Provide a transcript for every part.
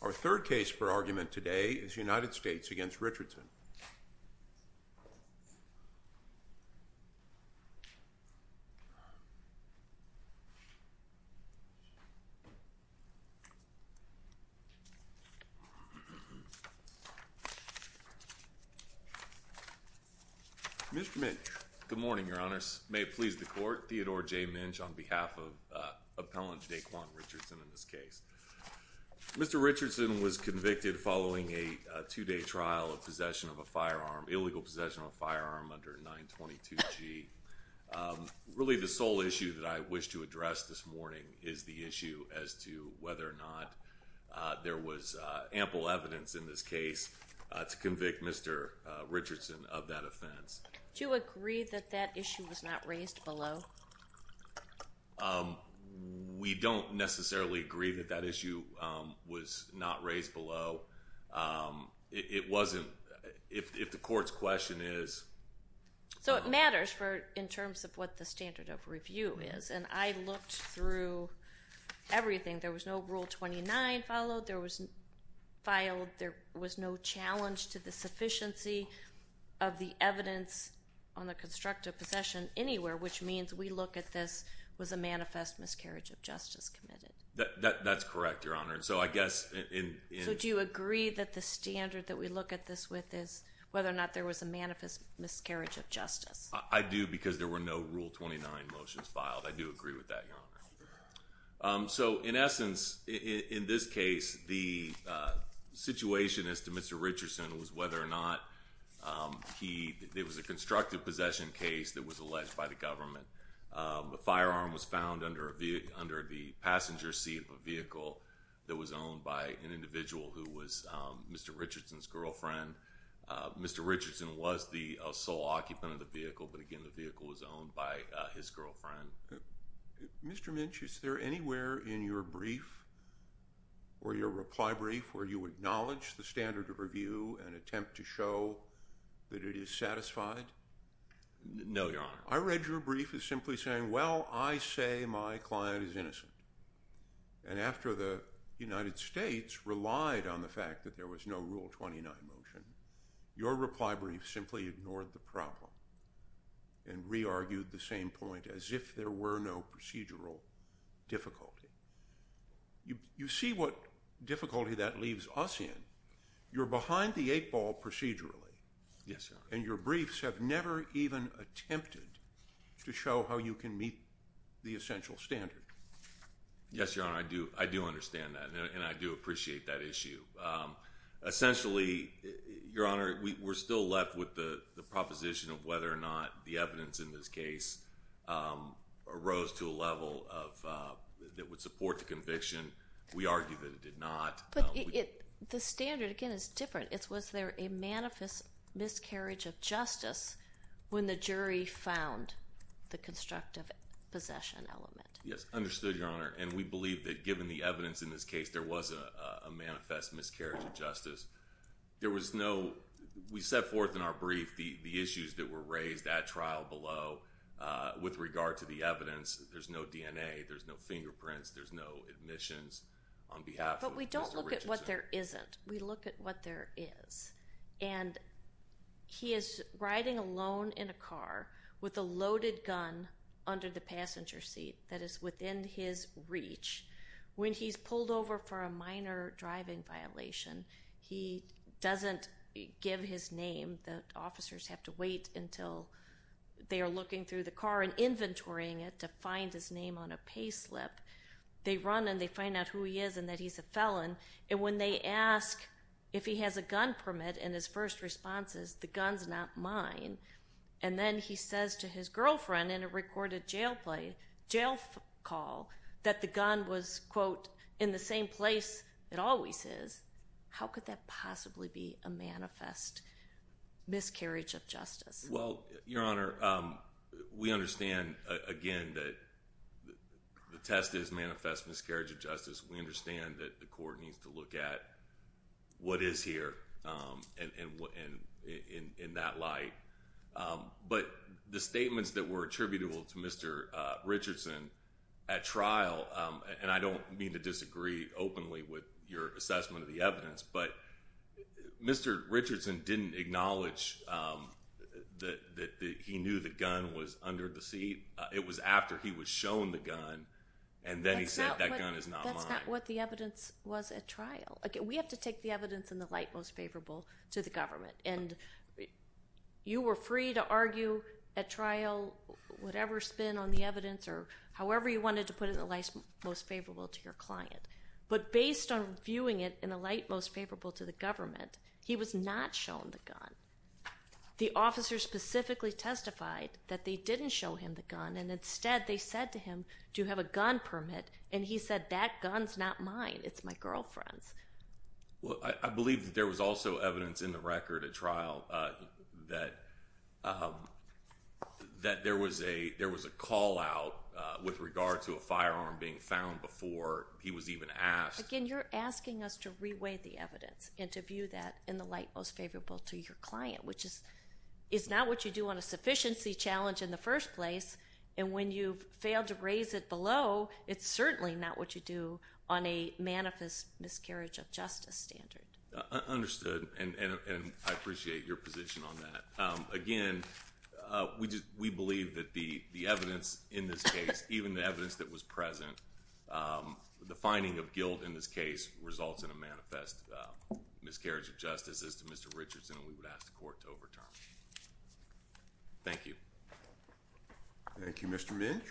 Our third case for argument today is United States v. Richardson. Mr. Minch, good morning, your honors. May it please the court, Theodore J. Minch on behalf of appellant Daquan Richardson in this case. Mr. Richardson was convicted following a two-day trial of possession of a firearm, illegal possession of a firearm under 922g. Really the sole issue that I wish to address this morning is the issue as to whether or not there was ample evidence in this case to convict Mr. Richardson of that offense. Do you agree that that issue was not raised below? We don't necessarily agree that that issue was not raised below. It wasn't, if the court's question is... So it matters in terms of what the standard of review is, and I looked through everything. There was no Rule 29 followed, there was no challenge to the sufficiency of the evidence on the constructive possession anywhere, which means we look at this as a manifest miscarriage of justice committed. That's correct, your honor. So do you agree that the standard that we look at this with is whether or not there was a manifest miscarriage of justice? I do, because there were no Rule 29 motions filed. I do agree with that, your honor. So in essence, in this case, the situation as to Mr. Richardson was whether or not there was a constructive possession case that was alleged by the government. A firearm was found under the passenger seat of a vehicle that was owned by an individual who was Mr. Richardson's girlfriend. Mr. Richardson was the sole occupant of the vehicle, but again, the vehicle was owned by his girlfriend. Mr. Minch, is there anywhere in your brief or your reply brief where you acknowledge the standard of review and attempt to show that it is satisfied? No, your honor. I read your brief as simply saying, well, I say my client is innocent. And after the United States relied on the fact that there was no Rule 29 motion, your reply brief simply ignored the problem and re-argued the same point as if there were no procedural difficulty. You see what difficulty that leaves us in. You're behind the eight ball procedurally. Yes, your honor. And your briefs have never even attempted to show how you can meet the essential standard. Yes, your honor. I do understand that, and I do appreciate that issue. Essentially, your honor, we're still left with the proposition of whether or not the conviction, we argue that it did not. But the standard, again, is different. It's was there a manifest miscarriage of justice when the jury found the constructive possession element? Yes, understood, your honor. And we believe that given the evidence in this case, there was a manifest miscarriage of justice. There was no, we set forth in our brief the issues that were raised at trial below with regard to the evidence. There's no DNA. There's no fingerprints. There's no admissions on behalf of Mr. Richardson. But we don't look at what there isn't. We look at what there is. And he is riding alone in a car with a loaded gun under the passenger seat that is within his reach. When he's pulled over for a minor driving violation, he doesn't give his name. The officers have to wait until they are looking through the car and inventorying it to find his name on a pay slip. They run and they find out who he is and that he's a felon. And when they ask if he has a gun permit in his first responses, the gun's not mine. And then he says to his girlfriend in a recorded jail play, jail call, that the gun was, quote, in the same place it always is. How could that possibly be a manifest miscarriage of justice? Well, Your Honor, we understand, again, that the test is manifest miscarriage of justice. We understand that the court needs to look at what is here in that light. But the statements that were attributable to Mr. Richardson at trial, and I don't mean to Mr. Richardson didn't acknowledge that he knew the gun was under the seat. It was after he was shown the gun and then he said that gun is not mine. That's not what the evidence was at trial. We have to take the evidence in the light most favorable to the government. And you were free to argue at trial whatever spin on the evidence or however you wanted to put it in the light most favorable to your client. But based on viewing it in the light most favorable to the government, he was not shown the gun. The officer specifically testified that they didn't show him the gun, and instead they said to him, do you have a gun permit? And he said that gun's not mine. It's my girlfriend's. Well, I believe that there was also evidence in the record at trial that there was a call out with regard to a firearm being found before he was even asked. Again, you're asking us to reweigh the evidence and to view that in the light most favorable to your client, which is not what you do on a sufficiency challenge in the first place. And when you've failed to raise it below, it's certainly not what you do on a manifest miscarriage of justice standard. Understood, and I appreciate your position on that. Again, we believe that the evidence in this case, even the evidence that was present, the finding of guilt in this case results in a manifest miscarriage of justice as to Mr. Richardson, and we would ask the court to overturn. Thank you. Thank you, Mr. Minch.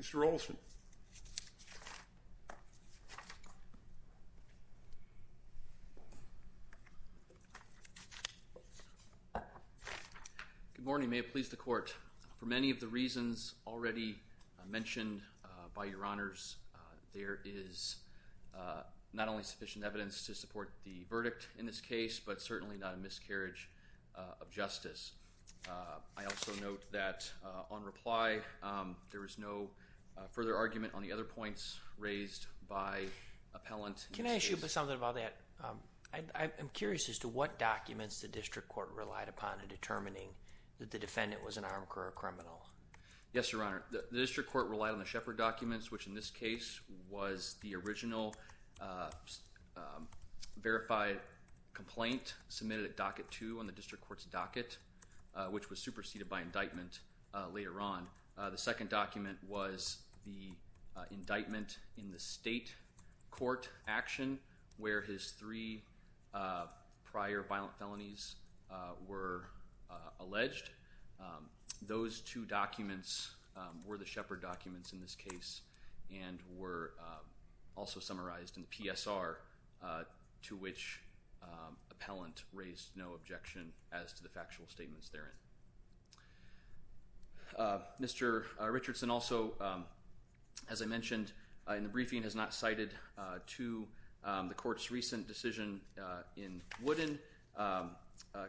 Mr. Olson. Good morning. May it please the court, for many of the reasons already mentioned by your honors, there is not only sufficient evidence to support the verdict in this case, but certainly not a miscarriage of justice. I also note that on reply, there is no further argument on the other points raised by appellant. Can I ask you something about that? I'm curious as to what documents the district court relied upon in determining that the defendant was an armed career criminal. Yes, Your Honor. The district court relied on the Shepard documents, which in this case was the original verified complaint submitted at docket two on the district court's docket, which was superseded by indictment later on. The second document was the indictment in the state court action where his three prior violent felonies were alleged. Those two documents were the Shepard documents in this case and were also summarized in the PSR to which appellant raised no objection as to the factual statements therein. Mr. Richardson also, as I mentioned in the briefing, has not cited to the court's recent decision in Wooden,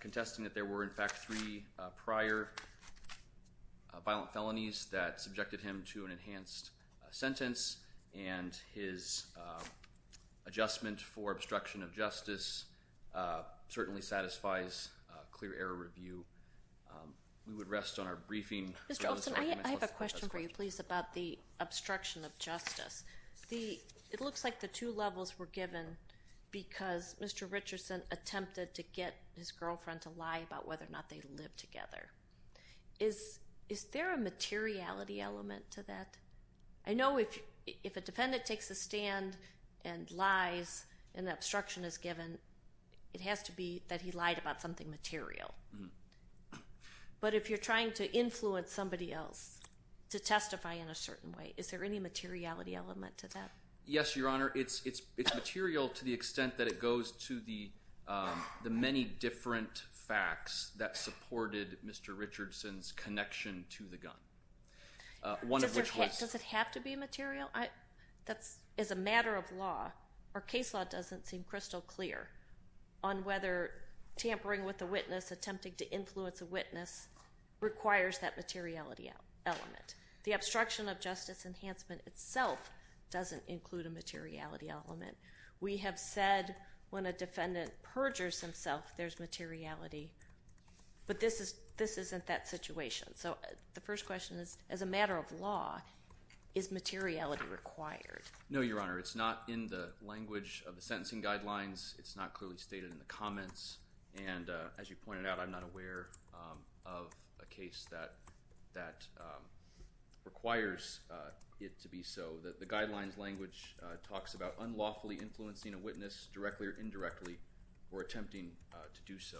contesting that there were in fact three prior violent felonies that subjected him to an enhanced sentence and his adjustment for obstruction of justice certainly satisfies clear error review. We would rest on our briefing. Mr. Olson, I have a question for you, please, about the obstruction of justice. It looks like the two levels were given because Mr. Richardson attempted to get his girlfriend to lie about whether or not they lived together. Is there a materiality element to that? I know if a defendant takes a stand and lies and the obstruction is given, it has to be that he lied about something material. But if you're trying to influence somebody else to testify in a certain way, is there any materiality element to that? Yes, Your Honor. It's material to the extent that it goes to the many different facts that supported Mr. Richardson's connection to the gun. Does it have to be material? As a matter of law, our case law doesn't seem crystal clear on whether tampering with a witness, attempting to influence a witness, requires that materiality element. The obstruction of justice enhancement itself doesn't include a materiality element. We have said when a defendant perjures himself, there's materiality, but this isn't that situation. So the first question is, as a matter of law, is materiality required? No, Your Honor. It's not in the language of the sentencing guidelines. It's not clearly stated in the comments. And as you pointed out, I'm not aware of a case that requires it to be so. The guidelines language talks about unlawfully influencing a witness directly or indirectly or attempting to do so.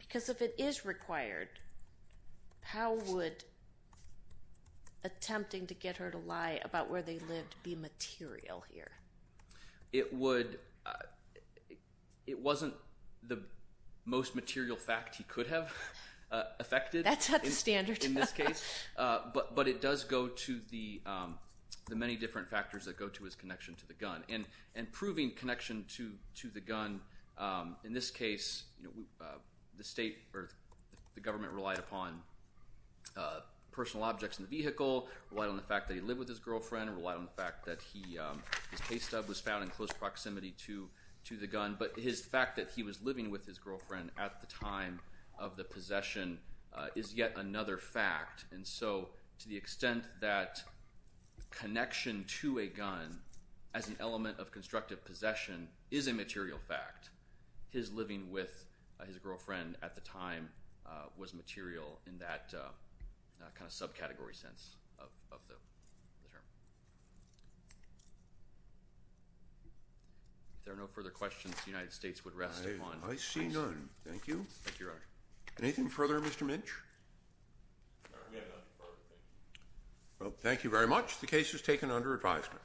Because if it is required, how would attempting to get her to lie about where they lived be material here? It would—it wasn't the most material fact he could have affected in this case. That's not the standard. But it does go to the many different factors that go to his connection to the gun. And proving connection to the gun, in this case, the state or the government relied upon personal objects in the vehicle, relied on the fact that he lived with his girlfriend, relied on the fact that his pay stub was found in close proximity to the gun. But his fact that he was living with his girlfriend at the time of the possession is yet another fact. And so to the extent that connection to a gun as an element of constructive possession is a material fact, his living with his girlfriend at the time was material in that kind of subcategory sense of the term. If there are no further questions, the United States would rest upon— I see none. Thank you. Thank you, Your Honor. Anything further, Mr. Mitch? We have no further questions. Well, thank you very much. The case is taken under advisement.